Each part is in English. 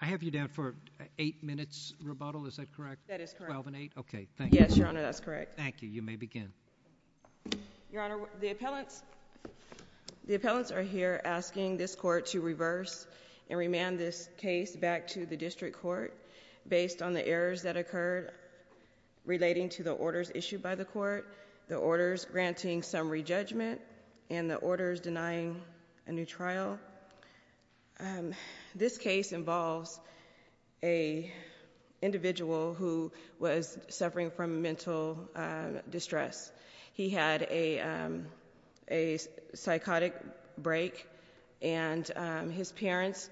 I have you down for eight minutes rebuttal. Is that correct? That is correct. Twelve and eight. Okay, thank you. Yes, Your Honor, that's correct. Thank you. You may begin. Your Honor, the appellants are here asking this court to reverse and remand this case back to the district court based on the errors that occurred relating to the orders issued by the court, the orders granting summary judgment, and the orders denying a new trial. Your Honor, this case involves an individual who was suffering from mental distress. He had a psychotic break and his parents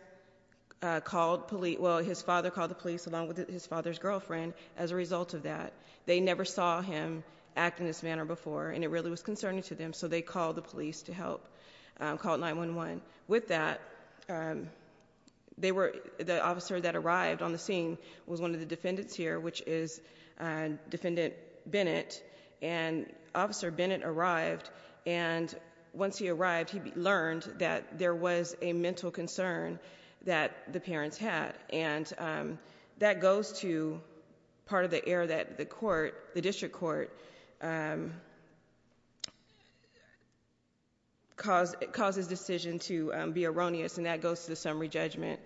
called, well his father called the police along with his father's girlfriend as a result of that. They never saw him act in this manner before and it really was concerning to them, so they called the police to help, called 911. With that, the officer that arrived on the scene was one of the defendants here, which is Defendant Bennett, and Officer Bennett arrived and once he arrived, he learned that there was a mental concern that the parents had. And that goes to part of the error that the court, the district court, causes decision to be erroneous and that goes to the summary judgment.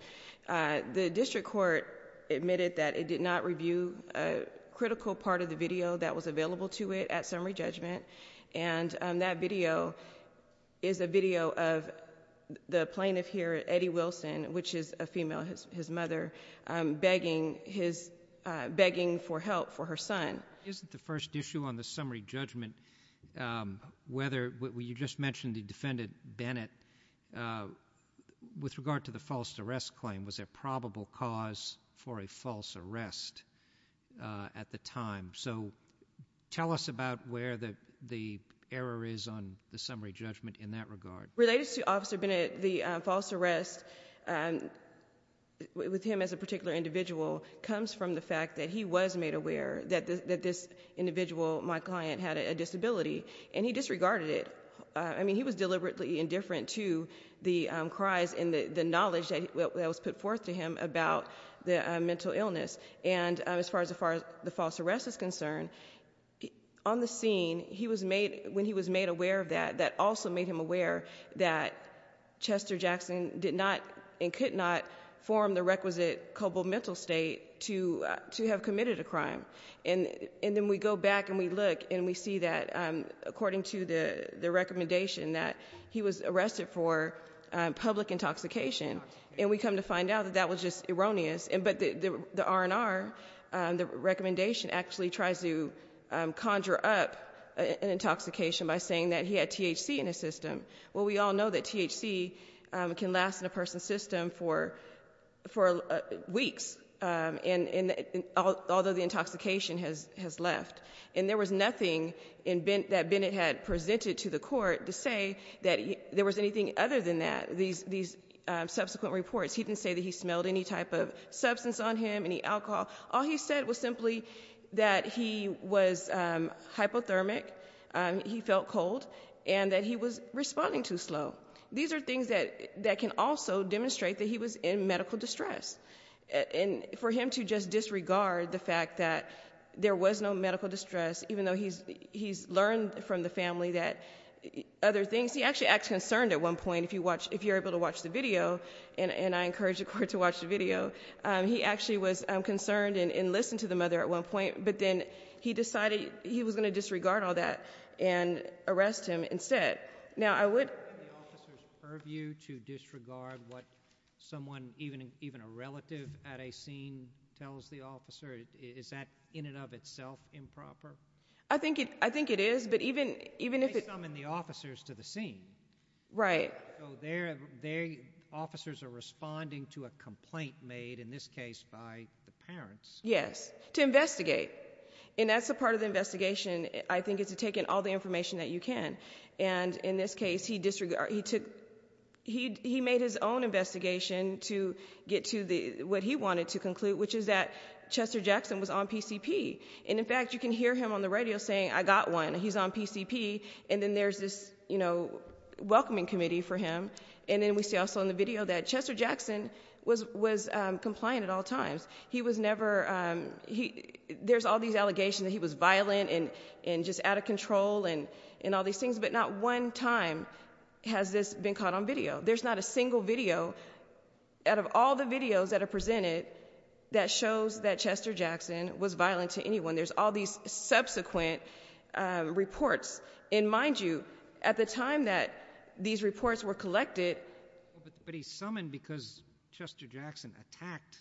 The district court admitted that it did not review a critical part of the video that was available to it at summary judgment and that video is a video of the plaintiff here, Eddie Wilson, which is a female, his mother, begging for help for her son. Isn't the first issue on the summary judgment whether, you just mentioned the defendant Bennett, with regard to the false arrest claim, was there probable cause for a false arrest at the time? So tell us about where the error is on the summary judgment in that regard. Related to Officer Bennett, the false arrest with him as a particular individual comes from the fact that he was made aware that this individual, my client, had a disability and he disregarded it. I mean, he was deliberately indifferent to the cries and the knowledge that was put forth to him about the mental illness. And as far as the false arrest is concerned, on the scene, when he was made aware of that, that also made him aware that Chester Jackson did not and could not form the requisite cobalt mental state to have committed a crime. And then we go back and we look and we see that, according to the recommendation, that he was arrested for public intoxication. And we come to find out that that was just erroneous. But the R&R, the recommendation, actually tries to conjure up an intoxication by saying that he had THC in his system. Well, we all know that THC can last in a person's system for weeks, although the intoxication has left. And there was nothing that Bennett had presented to the court to say that there was anything other than that, these subsequent reports. He didn't say that he smelled any type of substance on him, any alcohol. All he said was simply that he was hypothermic, he felt cold, and that he was responding too slow. These are things that can also demonstrate that he was in medical distress. And for him to just disregard the fact that there was no medical distress, even though he's learned from the family that other things, he actually acts concerned at one point, if you're able to watch the video, and I encourage the court to watch the video, he actually was concerned and listened to the mother at one point, but then he decided he was going to disregard all that and arrest him instead. Now, I would... In the officer's purview to disregard what someone, even a relative at a scene tells the officer, is that in and of itself improper? I think it is, but even if it... They summon the officers to the scene. Right. So their officers are responding to a complaint made, in this case, by the parents. Yes, to investigate. And that's a part of the investigation, I think, is to take in all the information that you can. And in this case, he made his own investigation to get to what he wanted to conclude, which is that Chester Jackson was on PCP. And in fact, you can hear him on the radio saying, I got one, he's on PCP, and then there's this welcoming committee for him. And then we see also in the video that Chester Jackson was compliant at all times. He was never... There's all these allegations that he was violent and just out of control and all these things, but not one time has this been caught on video. There's not a single video out of all the videos that are presented that shows that Chester Jackson was violent to anyone. There's all these subsequent reports. And mind you, at the time that these reports were collected... But he's summoned because Chester Jackson attacked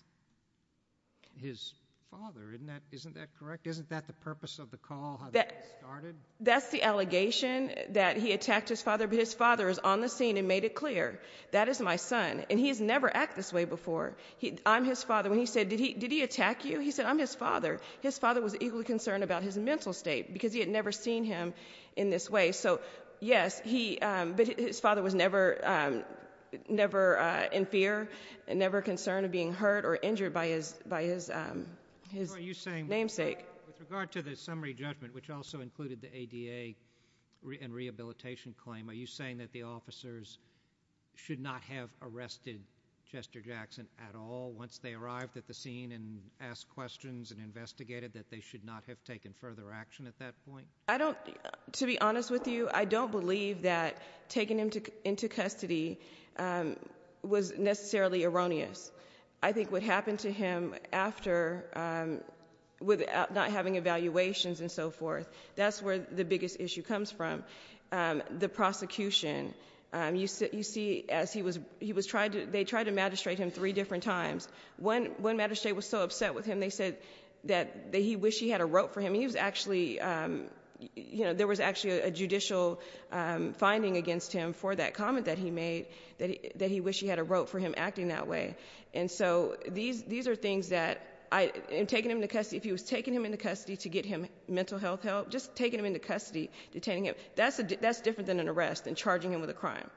his father. Isn't that correct? Isn't that the purpose of the call, how the case started? That's the allegation, that he attacked his father, but his father is on the scene and made it clear. That is my son. And he has never acted this way before. I'm his father. When he said, did he attack you? He said, I'm his father. His father was equally concerned about his mental state because he had never seen him in this way. So, yes, he... But his father was never in fear and never concerned of being hurt or injured by his namesake. With regard to the summary judgment, which also included the ADA and rehabilitation claim, are you saying that the officers should not have arrested Chester Jackson at all once they arrived at the scene and asked questions and investigated, that they should not have taken further action at that point? I don't... To be honest with you, I don't believe that taking him into custody was necessarily erroneous. I think what happened to him after, with not having evaluations and so forth, that's where the biggest issue comes from, the prosecution. You see, as he was... They tried to magistrate him three different times. One magistrate was so upset with him, they said that he wished he had a rope for him. He was actually... There was actually a judicial finding against him for that comment that he made, that he wished he had a rope for him acting that way. And so these are things that... In taking him into custody, if he was taking him into custody to get him mental health help, just taking him into custody, detaining him, that's different than an arrest and charging him with a crime.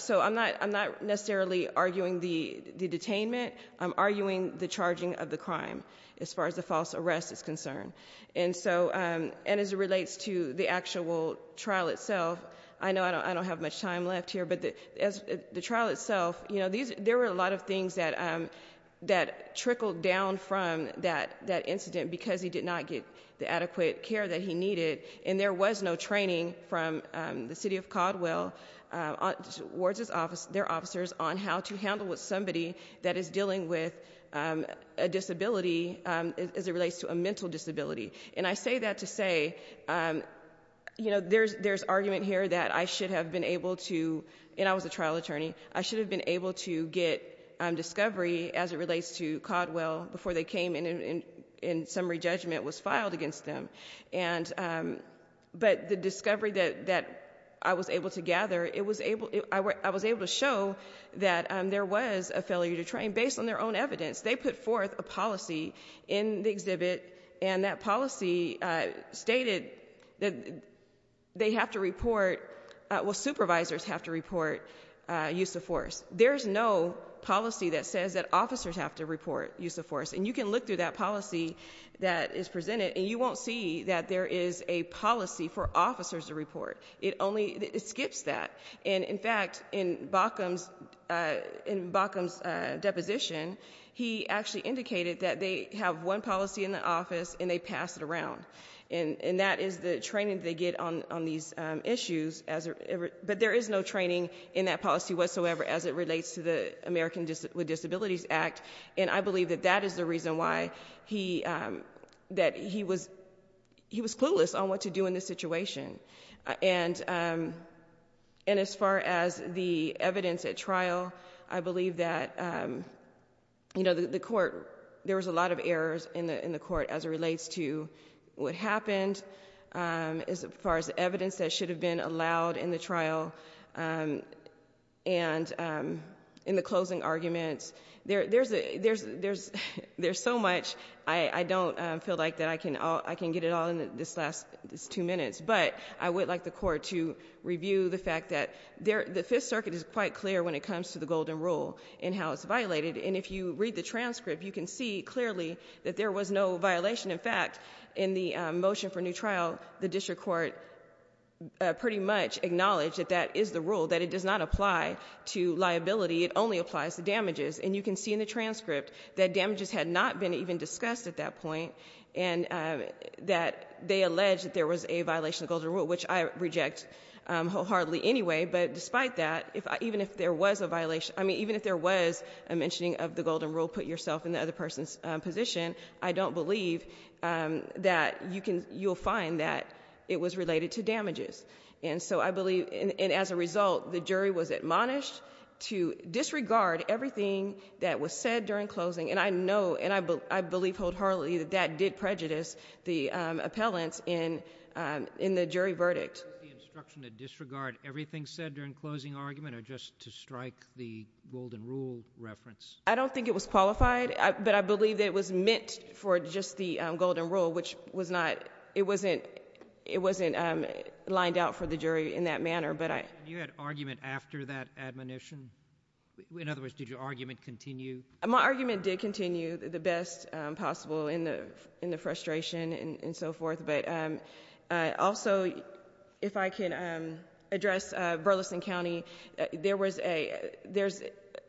So I'm not necessarily arguing the detainment. I'm arguing the charging of the crime as far as the false arrest is concerned. And as it relates to the actual trial itself, I know I don't have much time left here, but as the trial itself, there were a lot of things that trickled down from that incident because he did not get the adequate care that he needed, and there was no training from the city of Caldwell, their officers, on how to handle with somebody that is dealing with a disability as it relates to a mental disability. And I say that to say there's argument here that I should have been able to... And I was a trial attorney. I should have been able to get discovery as it relates to Caldwell before they came and summary judgment was filed against them. But the discovery that I was able to gather, I was able to show that there was a failure to train based on their own evidence. They put forth a policy in the exhibit, and that policy stated that they have to report, well, supervisors have to report use of force. There is no policy that says that officers have to report use of force. And you can look through that policy that is presented, and you won't see that there is a policy for officers to report. It only skips that. And, in fact, in Baucom's deposition, he actually indicated that they have one policy in the office and they pass it around, and that is the training they get on these issues. But there is no training in that policy whatsoever as it relates to the American with Disabilities Act, and I believe that that is the reason why he was clueless on what to do in this situation. And as far as the evidence at trial, I believe that, you know, the court, there was a lot of errors in the court as it relates to what happened. As far as the evidence that should have been allowed in the trial and in the closing arguments, there's so much I don't feel like I can get it all in these last two minutes. But I would like the court to review the fact that the Fifth Circuit is quite clear when it comes to the Golden Rule and how it's violated. And if you read the transcript, you can see clearly that there was no violation. In fact, in the motion for new trial, the district court pretty much acknowledged that that is the rule, that it does not apply to liability, it only applies to damages. And you can see in the transcript that damages had not been even discussed at that point and that they alleged that there was a violation of the Golden Rule, which I reject wholeheartedly anyway. But despite that, even if there was a violation, I mean, even if there was a mentioning of the Golden Rule, put yourself in the other person's position, I don't believe that you'll find that it was related to damages. And so I believe, and as a result, the jury was admonished to disregard everything that was said during closing. And I know and I believe wholeheartedly that that did prejudice the appellants in the jury verdict. Was the instruction to disregard everything said during closing argument or just to strike the Golden Rule reference? I don't think it was qualified, but I believe that it was meant for just the Golden Rule, which was not, it wasn't lined out for the jury in that manner. And you had argument after that admonition? In other words, did your argument continue? My argument did continue the best possible in the frustration and so forth. But also, if I can address Burleson County, there was a, there's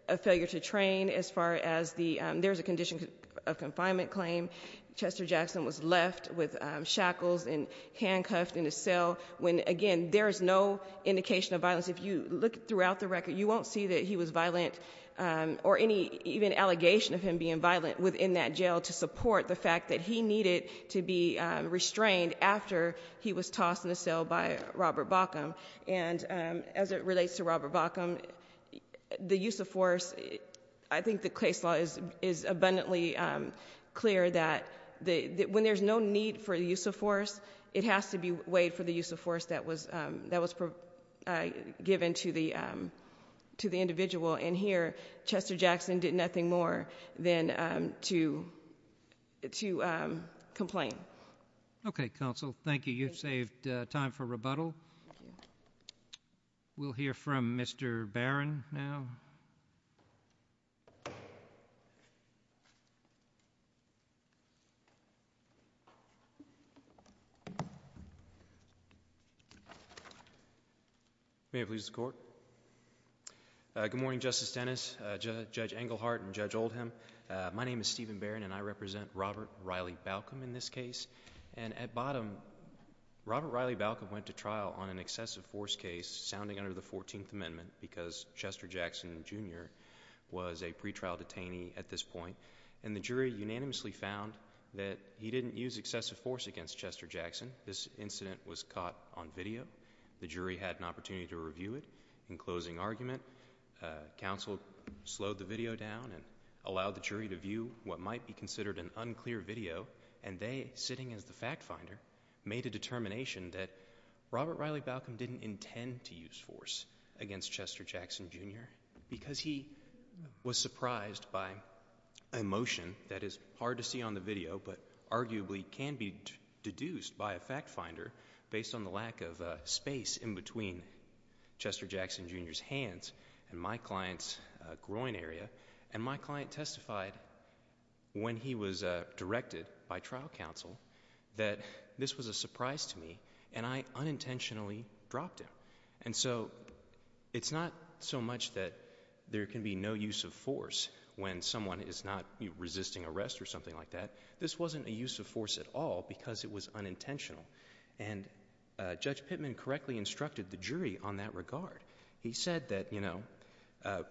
a failure to train as far as the, there's a condition of confinement claim. Chester Jackson was left with shackles and handcuffed in a cell when, again, there is no indication of violence. If you look throughout the record, you won't see that he was violent or any even allegation of him being violent within that jail to support the fact that he needed to be restrained after he was tossed in the cell by Robert Bauckham. And as it relates to Robert Bauckham, the use of force, I think the case law is abundantly clear that when there's no need for the use of force, it has to be weighed for the use of force that was, that was given to the, to the individual. And here, Chester Jackson did nothing more than to, to complain. Okay, counsel. Thank you. You've saved time for rebuttal. Thank you. We'll hear from Mr. Barron now. May it please the Court. Good morning, Justice Dennis, Judge Englehart and Judge Oldham. My name is Stephen Barron and I represent Robert Riley Bauckham in this case. And at bottom, Robert Riley Bauckham went to trial on an excessive force case sounding under the 14th Amendment because Chester Jackson, Jr. was a pretrial detainee at this point. And the jury unanimously found that he didn't use excessive force against Chester Jackson. This incident was caught on video. The jury had an opportunity to review it. In closing argument, counsel slowed the video down and allowed the jury to view what might be considered an unclear video. And they, sitting as the fact finder, made a determination that Robert Riley Bauckham didn't intend to use force against Chester Jackson, Jr. because he was surprised by emotion that is hard to see on the video but arguably can be deduced by a fact finder based on the lack of space in between Chester Jackson, Jr.'s hands and my client's groin area. And my client testified when he was directed by trial counsel that this was a surprise to me and I unintentionally dropped him. And so it's not so much that there can be no use of force when someone is not resisting arrest or something like that. This wasn't a use of force at all because it was unintentional. And Judge Pittman correctly instructed the jury on that regard. He said that, you know,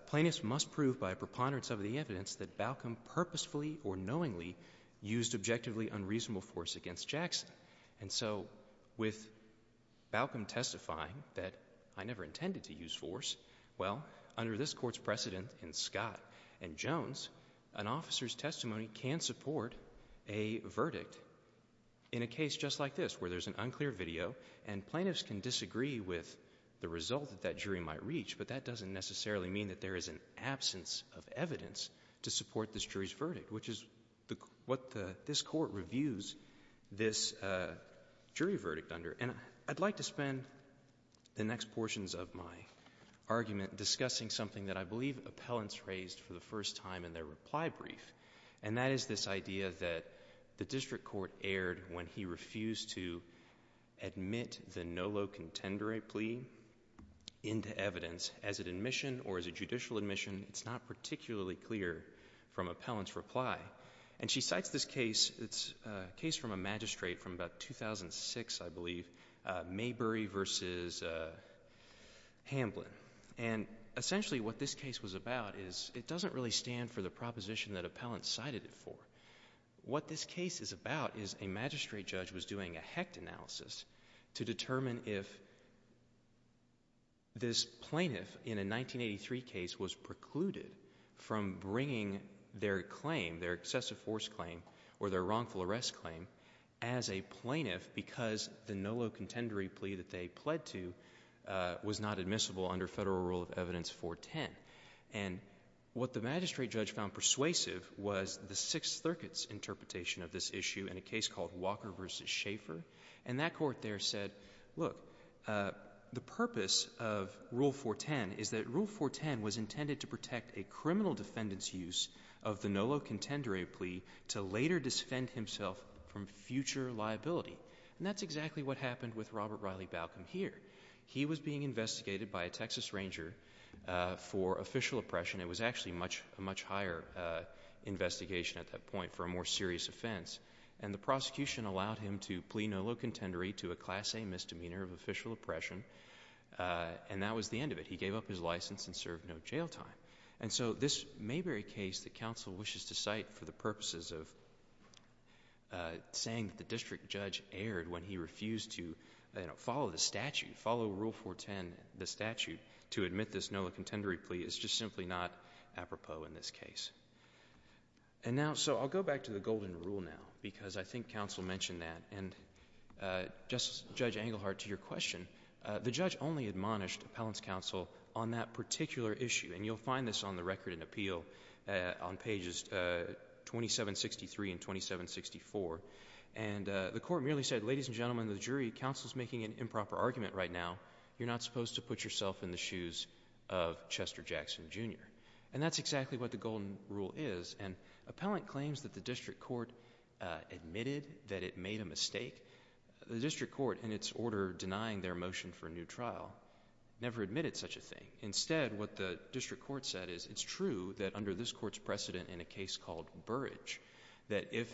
plaintiffs must prove by preponderance of the evidence that Bauckham purposefully or knowingly used objectively unreasonable force against Jackson. And so with Bauckham testifying that I never intended to use force, well, under this Court's precedent in Scott and Jones, an officer's testimony can support a verdict in a case just like this where there's an unclear video and plaintiffs can disagree with the result that that jury might reach, but that doesn't necessarily mean that there is an absence of evidence to support this jury's verdict, which is what this Court reviews this jury verdict under. And I'd like to spend the next portions of my argument discussing something that I believe appellants raised for the first time in their reply brief, and that is this idea that the district court erred when he refused to admit the Nolo contendere plea into evidence as an admission or as a judicial admission. It's not particularly clear from appellant's reply. And she cites this case. It's a case from a magistrate from about 2006, I believe, Maybury v. Hamblin. And essentially what this case was about is it doesn't really stand for the proposition that appellants cited it for. What this case is about is a magistrate judge was doing a HECT analysis to determine if this plaintiff in a 1983 case was precluded from bringing their claim, their excessive force claim or their wrongful arrest claim, as a plaintiff because the Nolo contendere plea that they pled to was not admissible under Federal Rule of Evidence 410. And what the magistrate judge found persuasive was the Sixth Circuit's interpretation of this issue in a case called Walker v. Schaeffer. And that court there said, look, the purpose of Rule 410 is that Rule 410 was intended to protect a criminal defendant's use of the Nolo contendere plea to later disfend himself from future liability. And that's exactly what happened with Robert Riley Balcom here. He was being investigated by a Texas ranger for official oppression. It was actually a much higher investigation at that point for a more serious offense. And the prosecution allowed him to plea Nolo contendere to a Class A misdemeanor of official oppression, and that was the end of it. He gave up his license and served no jail time. And so this Mayberry case that counsel wishes to cite for the purposes of saying that the district judge erred when he refused to follow the statute, follow Rule 410, the statute, to admit this Nolo contendere plea is just simply not apropos in this case. And now, so I'll go back to the Golden Rule now because I think counsel mentioned that. And, Justice Judge Engelhardt, to your question, the judge only admonished appellant's counsel on that particular issue. And you'll find this on the record in appeal on pages 2763 and 2764. And the court merely said, ladies and gentlemen of the jury, counsel's making an improper argument right now. You're not supposed to put yourself in the shoes of Chester Jackson, Jr. And that's exactly what the Golden Rule is. And appellant claims that the district court admitted that it made a mistake. The district court, in its order denying their motion for a new trial, never admitted such a thing. Instead, what the district court said is, it's true that under this court's precedent in a case called Burrage, that if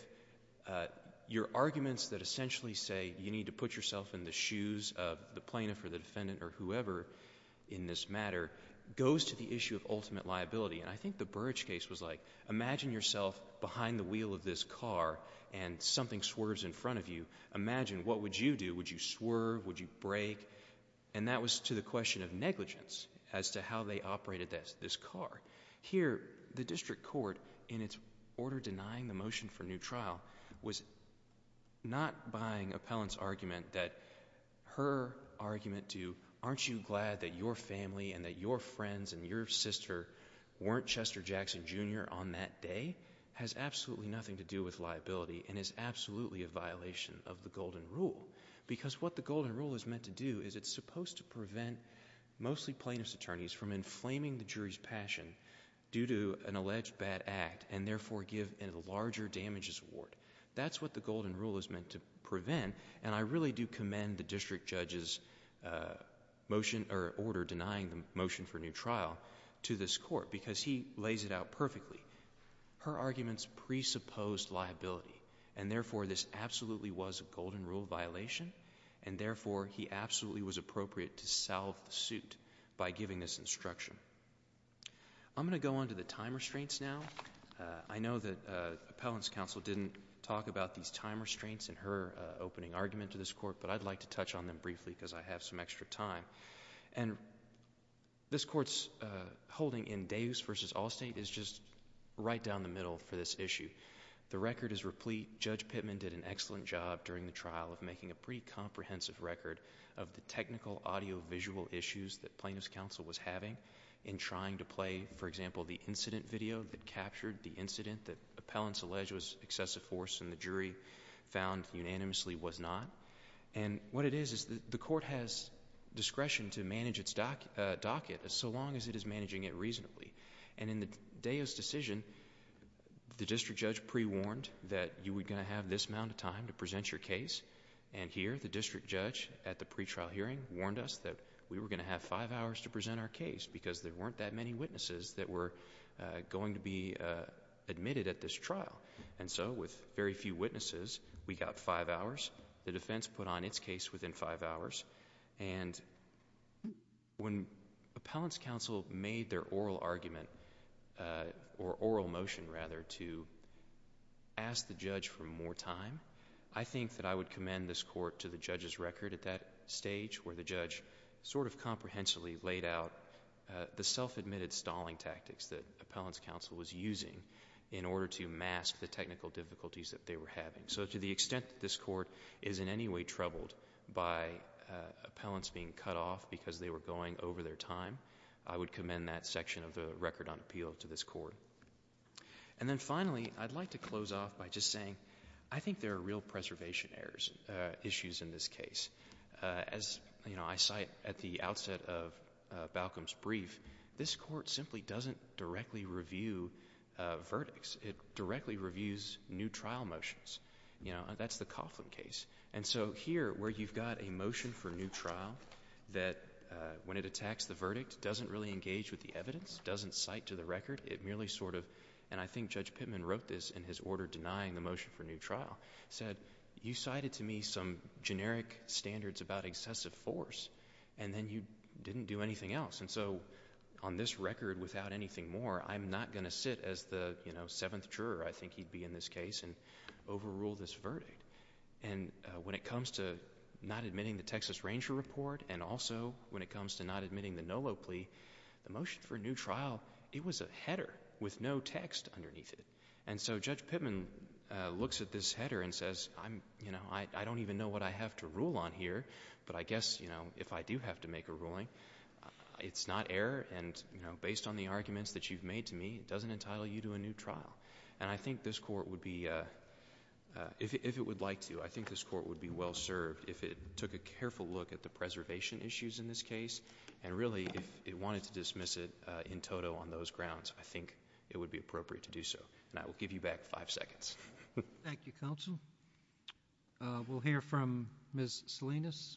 your arguments that essentially say you need to put yourself in the shoes of the plaintiff or the defendant or whoever in this matter, goes to the issue of ultimate liability. And I think the Burrage case was like, imagine yourself behind the wheel of this car and something swerves in front of you. Imagine, what would you do? Would you swerve? Would you brake? And that was to the question of negligence as to how they operated this car. Here, the district court, in its order denying the motion for a new trial, was not buying appellant's argument that her argument to, aren't you glad that your family and that your friends and your sister weren't Chester Jackson, Jr. on that day, has absolutely nothing to do with liability and is absolutely a violation of the Golden Rule. Because what the Golden Rule is meant to do is it's supposed to prevent mostly plaintiff's attorneys from inflaming the jury's passion due to an alleged bad act and therefore give a larger damages award. That's what the Golden Rule is meant to prevent. And I really do commend the district judge's motion or order denying the motion for a new trial to this court because he lays it out perfectly. Her arguments presupposed liability and therefore this absolutely was a Golden Rule violation and therefore he absolutely was appropriate to solve the suit by giving this instruction. I'm going to go on to the time restraints now. I know that appellant's counsel didn't talk about these time restraints in her opening argument to this court, but I'd like to touch on them briefly because I have some extra time. And this court's holding in Davis v. Allstate is just right down the middle for this issue. The record is replete. Judge Pittman did an excellent job during the trial of making a pretty comprehensive record of the technical audiovisual issues that plaintiff's counsel was having in trying to play, for example, the incident video that captured the incident that appellants allege was excessive force and the jury found unanimously was not. And what it is is the court has discretion to manage its docket so long as it is managing it reasonably. And in the day's decision, the district judge pre-warned that you were going to have this amount of time to present your case and here the district judge at the pre-trial hearing warned us that we were going to have five hours to present our case because there weren't that many witnesses that were going to be admitted at this trial. And so with very few witnesses, we got five hours. The defense put on its case within five hours. And when appellants' counsel made their oral argument or oral motion, rather, to ask the judge for more time, I think that I would commend this court to the judge's record at that stage where the judge sort of comprehensively laid out the self-admitted stalling tactics that appellants' counsel was using in order to mask the technical difficulties that they were having. So to the extent that this court is in any way troubled by appellants being cut off because they were going over their time, I would commend that section of the record on appeal to this court. And then finally, I'd like to close off by just saying I think there are real preservation issues in this case. As I cite at the outset of Balcombe's brief, this court simply doesn't directly review verdicts. It directly reviews new trial motions. That's the Coughlin case. And so here, where you've got a motion for new trial that, when it attacks the verdict, doesn't really engage with the evidence, doesn't cite to the record, it merely sort of, and I think Judge Pittman wrote this in his order denying the motion for new trial, said, you cited to me some generic standards about excessive force, and then you didn't do anything else. And so on this record, without anything more, I'm not going to sit as the seventh juror, I think he'd be in this case, and overrule this verdict. And when it comes to not admitting the Texas Ranger report and also when it comes to not admitting the Nolo plea, the motion for new trial, it was a header with no text underneath it. And so Judge Pittman looks at this header and says, I don't even know what I have to rule on here, but I guess if I do have to make a ruling, it's not error, and based on the arguments that you've made to me, it doesn't entitle you to a new trial. And I think this court would be, if it would like to, I think this court would be well served if it took a careful look at the preservation issues in this case, and really if it wanted to dismiss it in toto on those grounds, I think it would be appropriate to do so. And I will give you back five seconds. Thank you, Counsel. We'll hear from Ms. Salinas.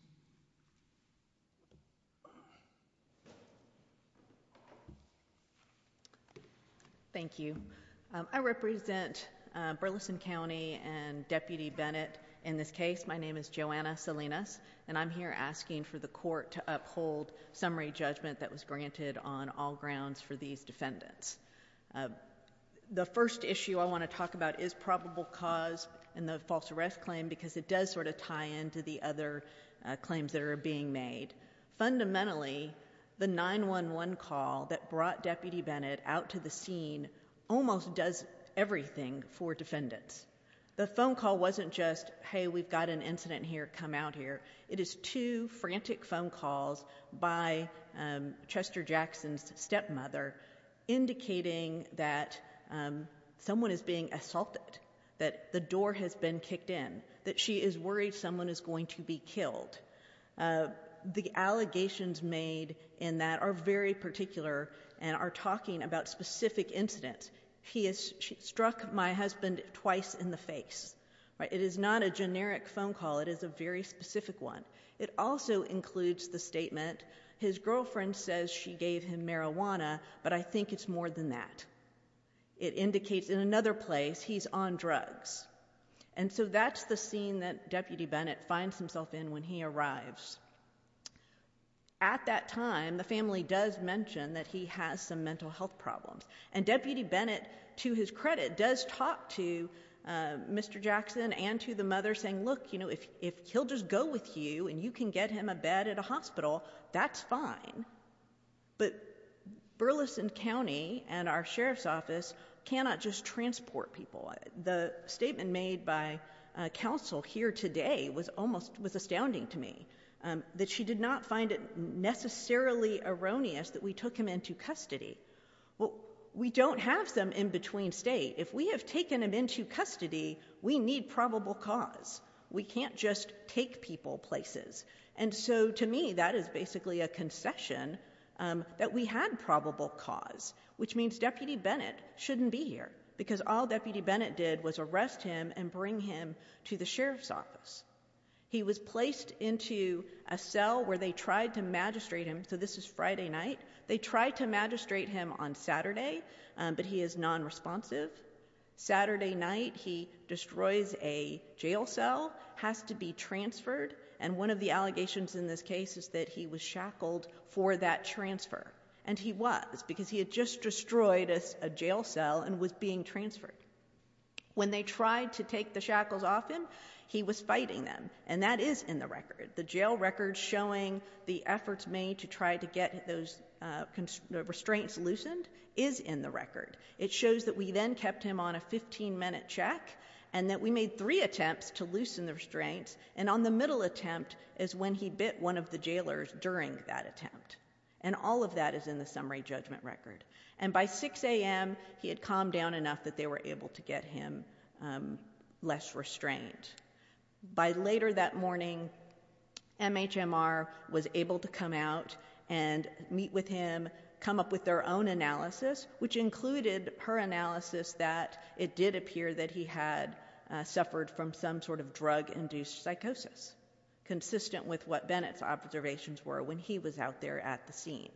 Thank you. I represent Burleson County and Deputy Bennett in this case. My name is Joanna Salinas, and I'm here asking for the court to uphold summary judgment that was granted on all grounds for these defendants. The first issue I want to talk about is probable cause and the false arrest claim, because it does sort of tie in to the other claims that are being made. Fundamentally, the 911 call that brought Deputy Bennett out to the scene almost does everything for defendants. The phone call wasn't just, hey, we've got an incident here, come out here. It is two frantic phone calls by Chester Jackson's stepmother indicating that someone is being assaulted, that the door has been kicked in, that she is worried someone is going to be killed. The allegations made in that are very particular and are talking about specific incidents. He has struck my husband twice in the face. It is not a generic phone call. It is a very specific one. It also includes the statement, his girlfriend says she gave him marijuana, but I think it's more than that. It indicates in another place he's on drugs. And so that's the scene that Deputy Bennett finds himself in when he arrives. At that time, the family does mention that he has some mental health problems, and Deputy Bennett, to his credit, does talk to Mr. Jackson and to the mother saying, look, if he'll just go with you and you can get him a bed at a hospital, that's fine. But Burleson County and our sheriff's office cannot just transport people. The statement made by counsel here today was almost astounding to me, that she did not find it necessarily erroneous that we took him into custody. We don't have them in between state. If we have taken him into custody, we need probable cause. We can't just take people places. And so to me, that is basically a concession that we had probable cause, which means Deputy Bennett shouldn't be here, because all Deputy Bennett did was arrest him and bring him to the sheriff's office. He was placed into a cell where they tried to magistrate him. So this is Friday night. They tried to magistrate him on Saturday, but he is nonresponsive. Saturday night, he destroys a jail cell, has to be transferred, and one of the allegations in this case is that he was shackled for that transfer. And he was, because he had just destroyed a jail cell and was being transferred. When they tried to take the shackles off him, he was fighting them, and that is in the record, the jail record showing the efforts made to try to get those restraints loosened is in the record. It shows that we then kept him on a 15-minute check and that we made three attempts to loosen the restraints, and on the middle attempt is when he bit one of the jailers during that attempt. And all of that is in the summary judgment record. And by 6 a.m., he had calmed down enough that they were able to get him less restraint. By later that morning, MHMR was able to come out and meet with him, come up with their own analysis, which included her analysis that it did appear that he had suffered from some sort of drug-induced psychosis, consistent with what Bennett's observations were when he was out there at the scene.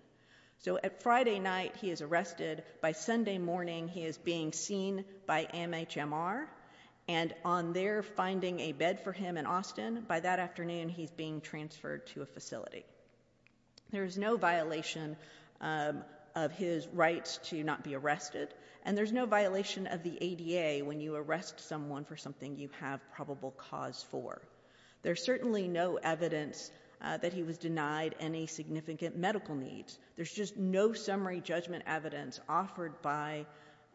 So at Friday night, he is arrested. By Sunday morning, he is being seen by MHMR. And on their finding a bed for him in Austin, by that afternoon, he's being transferred to a facility. There is no violation of his rights to not be arrested, and there's no violation of the ADA when you arrest someone for something you have probable cause for. There's certainly no evidence that he was denied any significant medical needs. There's just no summary judgment evidence offered by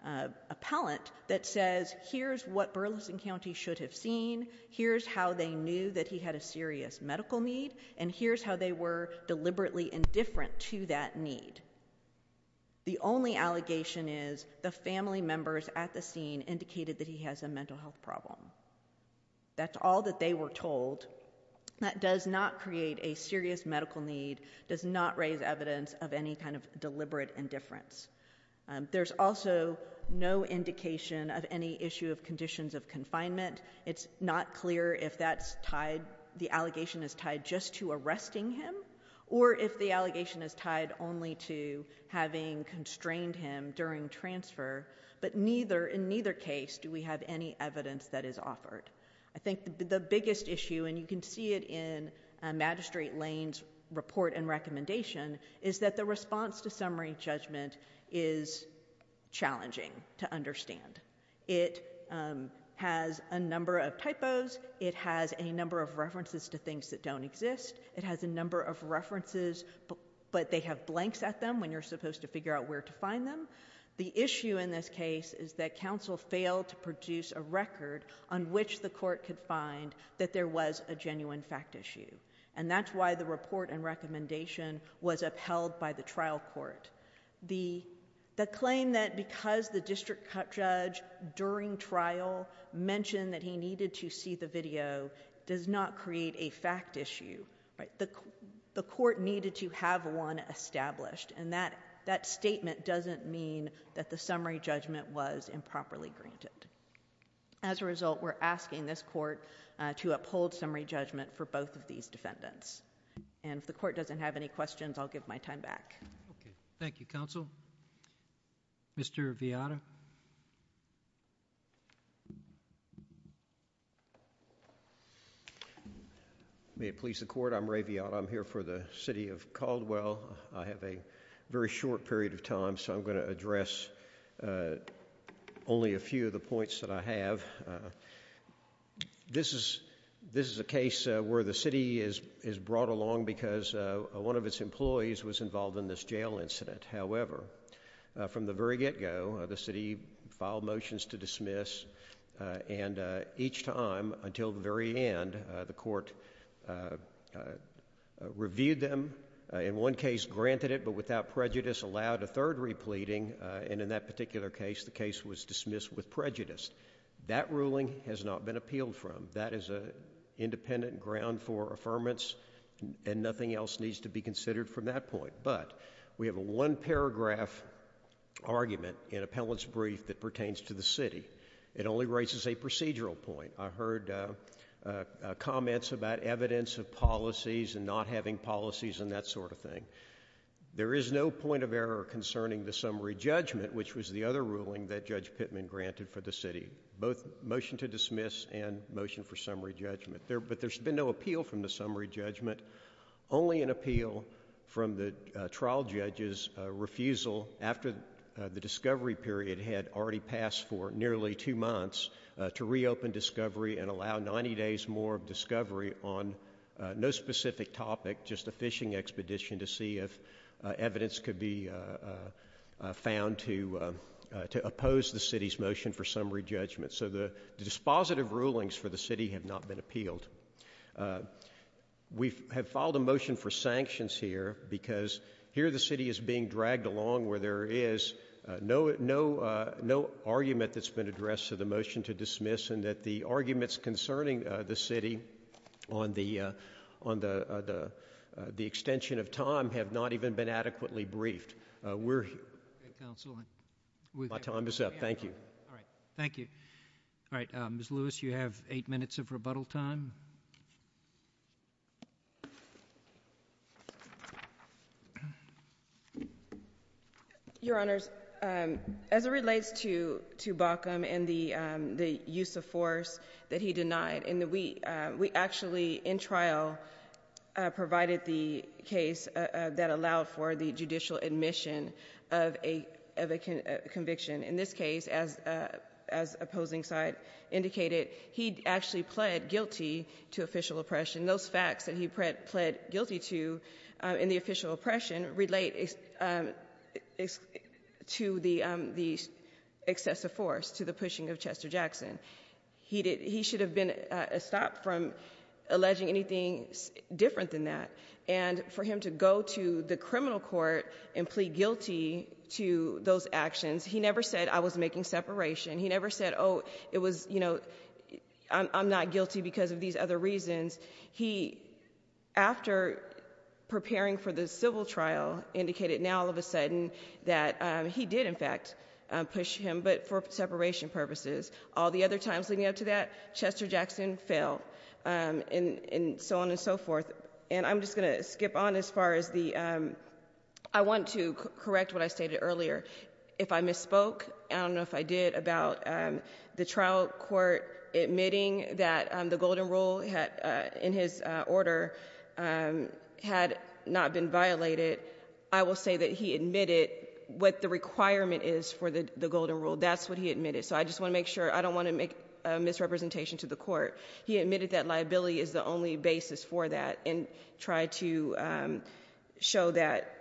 an appellant that says, here's what Burleson County should have seen, here's how they knew that he had a serious medical need, and here's how they were deliberately indifferent to that need. The only allegation is the family members at the scene indicated that he has a mental health problem. That's all that they were told. That does not create a serious medical need, does not raise evidence of any kind of deliberate indifference. There's also no indication of any issue of conditions of confinement. It's not clear if the allegation is tied just to arresting him, or if the allegation is tied only to having constrained him during transfer. But in neither case do we have any evidence that is offered. I think the biggest issue, and you can see it in Magistrate Lane's report and recommendation, is that the response to summary judgment is challenging to understand. It has a number of typos, it has a number of references to things that don't exist, it has a number of references but they have blanks at them when you're supposed to figure out where to find them. The issue in this case is that counsel failed to produce a record on which the court could find that there was a genuine fact issue. And that's why the report and recommendation was upheld by the trial court. The claim that because the district judge during trial mentioned that he needed to see the video does not create a fact issue. The court needed to have one established. And that statement doesn't mean that the summary judgment was improperly granted. As a result, we're asking this court to uphold summary judgment for both of these defendants. And if the court doesn't have any questions, I'll give my time back. Thank you, counsel. Mr. Vianna? May it please the court, I'm Ray Vianna. I'm here for the city of Caldwell. I have a very short period of time so I'm going to address only a few of the points that I have. This is a case where the city is brought along because one of its employees was involved in this jail incident. However, from the very get-go, the city filed motions to dismiss. And each time until the very end, the court reviewed them. In one case, granted it, but without prejudice allowed a third repleting. And in that particular case, the case was dismissed with prejudice. That ruling has not been appealed from. That is an independent ground for affirmance and nothing else needs to be considered from that point. But we have a one-paragraph argument in appellant's brief that pertains to the city. It only raises a procedural point. I heard comments about evidence of policies and not having policies and that sort of thing. There is no point of error concerning the summary judgment, which was the other ruling that Judge Pittman granted for the city. Both motion to dismiss and motion for summary judgment. But there's been no appeal from the summary judgment. Only an appeal from the trial judge's refusal after the discovery period had already passed for nearly two months to reopen discovery and allow 90 days more of discovery on no specific topic, just a fishing expedition to see if evidence could be found to oppose the city's motion for summary judgment. So the dispositive rulings for the city have not been appealed. We have filed a motion for sanctions here because here the city is being dragged along where there is no argument that's been addressed to the motion to dismiss and that the arguments concerning the city on the extension of time have not even been adequately briefed. We're here. My time is up. Thank you. All right. Thank you. All right. Ms. Lewis, you have eight minutes of rebuttal time. Your Honors, as it relates to Baucom and the use of force that he denied, we actually, in trial, provided the case that allowed for the judicial admission of a conviction. In this case, as opposing side indicated, he actually pled guilty to official oppression. Those facts that he pled guilty to in the official oppression relate to the excessive force, to the pushing of Chester Jackson. He should have been stopped from alleging anything different than that. And for him to go to the criminal court and plead guilty to those actions, he never said, I was making separation. He never said, oh, it was, you know, I'm not guilty because of these other reasons. He, after preparing for the civil trial, indicated now, all of a sudden, that he did, in fact, push him, but for separation purposes. All the other times leading up to that, Chester Jackson fell, and so on and so forth. And I'm just going to skip on as far as the, I want to correct what I stated earlier. If I misspoke, I don't know if I did, about the trial court admitting that the golden rule in his order had not been violated. I will say that he admitted what the requirement is for the golden rule. That's what he admitted. So I just want to make sure, I don't want to make a misrepresentation to the court. He admitted that liability is the only basis for that and tried to show that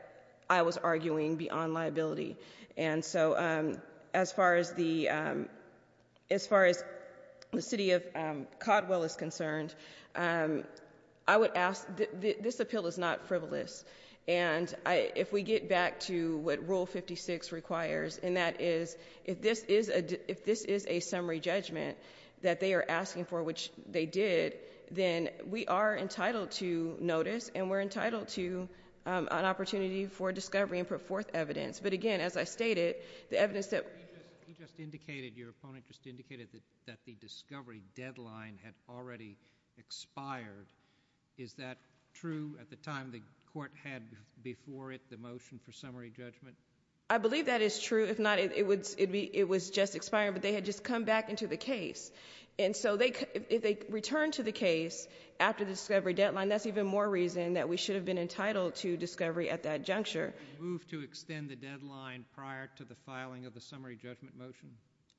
I was arguing beyond liability. And so as far as the city of Codwell is concerned, I would ask, this appeal is not frivolous. And if we get back to what Rule 56 requires, and that is, if this is a summary judgment that they are asking for, which they did, then we are entitled to notice and we're entitled to an opportunity for discovery and put forth evidence. But again, as I stated, the evidence that- He just indicated, your opponent just indicated that the discovery deadline had already expired. Is that true at the time the court had before it the motion for summary judgment? I believe that is true. If not, it was just expired, but they had just come back into the case. And so if they return to the case after the discovery deadline, that's even more reason that we should have been entitled to discovery at that juncture. Did they move to extend the deadline prior to the filing of the summary judgment motion?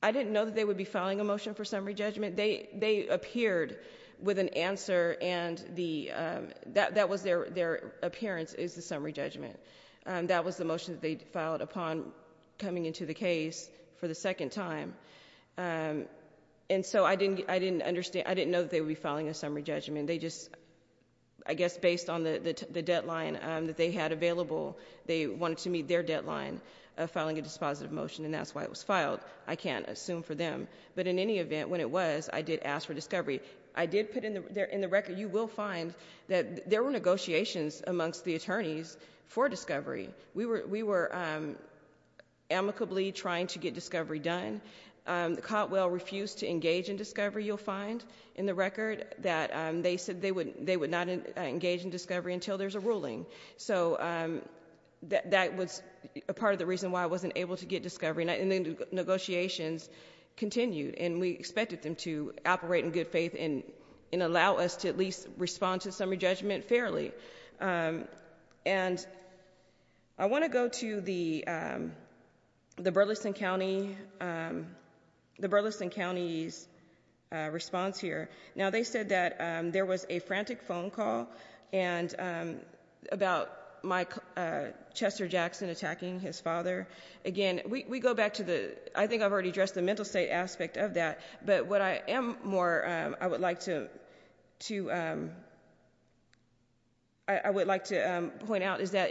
I didn't know that they would be filing a motion for summary judgment. They appeared with an answer, and that was their appearance, is the summary judgment. That was the motion that they filed upon coming into the case for the second time. And so I didn't understand. I didn't know that they would be filing a summary judgment. I guess based on the deadline that they had available, they wanted to meet their deadline of filing a dispositive motion, and that's why it was filed. I can't assume for them. But in any event, when it was, I did ask for discovery. I did put in the record, you will find that there were negotiations amongst the attorneys for discovery. We were amicably trying to get discovery done. The Cotwell refused to engage in discovery, you'll find in the record, that they said they would not engage in discovery until there's a ruling. So that was a part of the reason why I wasn't able to get discovery. And the negotiations continued, and we expected them to operate in good faith and allow us to at least respond to the summary judgment fairly. And I want to go to the Burleson County's response here. Now, they said that there was a frantic phone call about Chester Jackson attacking his father. Again, we go back to the, I think I've already addressed the mental state aspect of that. But what I am more, I would like to point out is that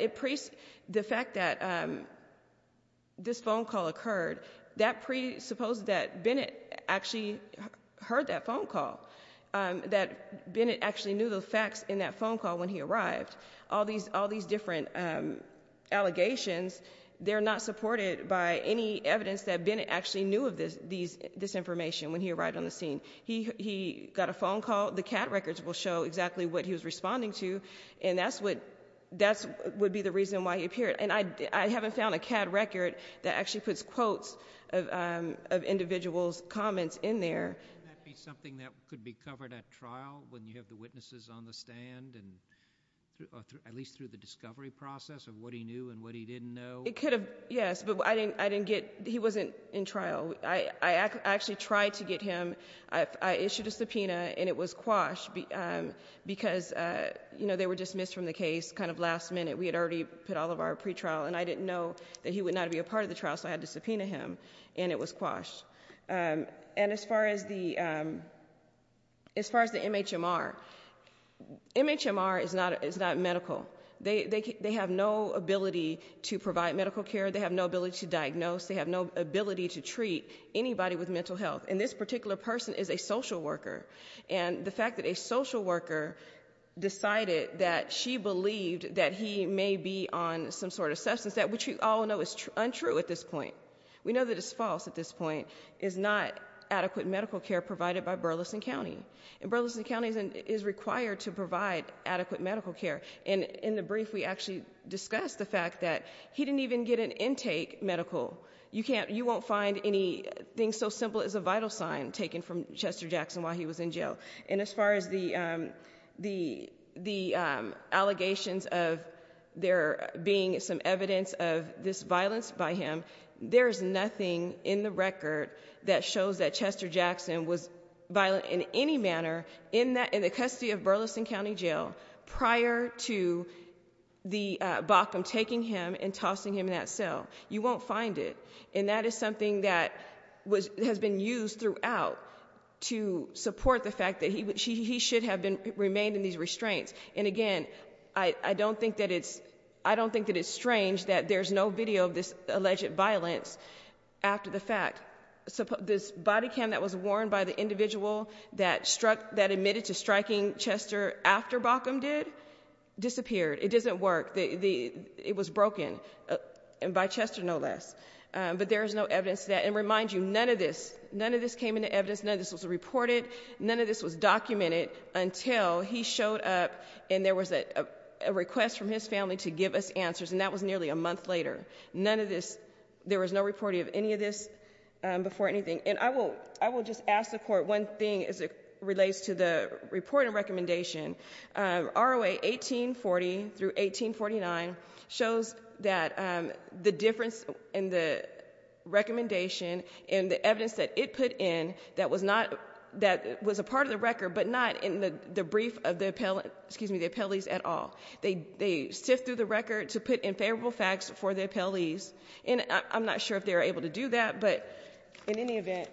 the fact that this phone call occurred, that presupposes that Bennett actually heard that phone call. That Bennett actually knew the facts in that phone call when he arrived. All these different allegations, they're not supported by any evidence that Bennett actually knew of this information when he arrived on the scene. He got a phone call. The CAD records will show exactly what he was responding to, and that would be the reason why he appeared. And I haven't found a CAD record that actually puts quotes of individuals' comments in there. Can that be something that could be covered at trial when you have the witnesses on the stand, at least through the discovery process of what he knew and what he didn't know? It could have, yes. But I didn't get, he wasn't in trial. I actually tried to get him. I issued a subpoena, and it was quashed because they were dismissed from the case kind of last minute. We had already put all of our pretrial, and I didn't know that he would not be a part of the trial, so I had to subpoena him, and it was quashed. And as far as the MHMR, MHMR is not medical. They have no ability to provide medical care. They have no ability to diagnose. They have no ability to treat anybody with mental health, and this particular person is a social worker. And the fact that a social worker decided that she believed that he may be on some sort of substance, which we all know is untrue at this point. We know that it's false at this point, is not adequate medical care provided by Burleson County. And Burleson County is required to provide adequate medical care. And in the brief, we actually discussed the fact that he didn't even get an intake medical. You can't, you won't find anything so simple as a vital sign taken from Chester Jackson while he was in jail. And as far as the allegations of there being some evidence of this violence by him, there is nothing in the record that shows that Chester Jackson was violent in any manner in the custody of Burleson County Jail prior to the BOCM taking him and tossing him in that cell. You won't find it. And that is something that has been used throughout to support the fact that he should have remained in these restraints. And again, I don't think that it's strange that there's no video of this alleged violence after the fact. This body cam that was worn by the individual that admitted to striking Chester after BOCM did disappeared. It doesn't work. It was broken. And by Chester, no less. But there is no evidence that, and remind you, none of this, none of this came into evidence. None of this was reported. None of this was documented until he showed up and there was a request from his family to give us answers. And that was nearly a month later. None of this, there was no reporting of any of this before anything. And I will just ask the Court one thing as it relates to the report and recommendation. ROA 1840 through 1849 shows that the difference in the recommendation and the evidence that it put in that was a part of the record, but not in the brief of the appellees at all. They sift through the record to put in favorable facts for the appellees. And I'm not sure if they were able to do that, but in any event,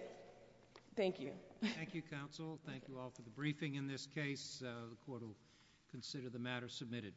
thank you. Thank you, Counsel. Thank you all for the briefing in this case. The Court will consider the matter submitted.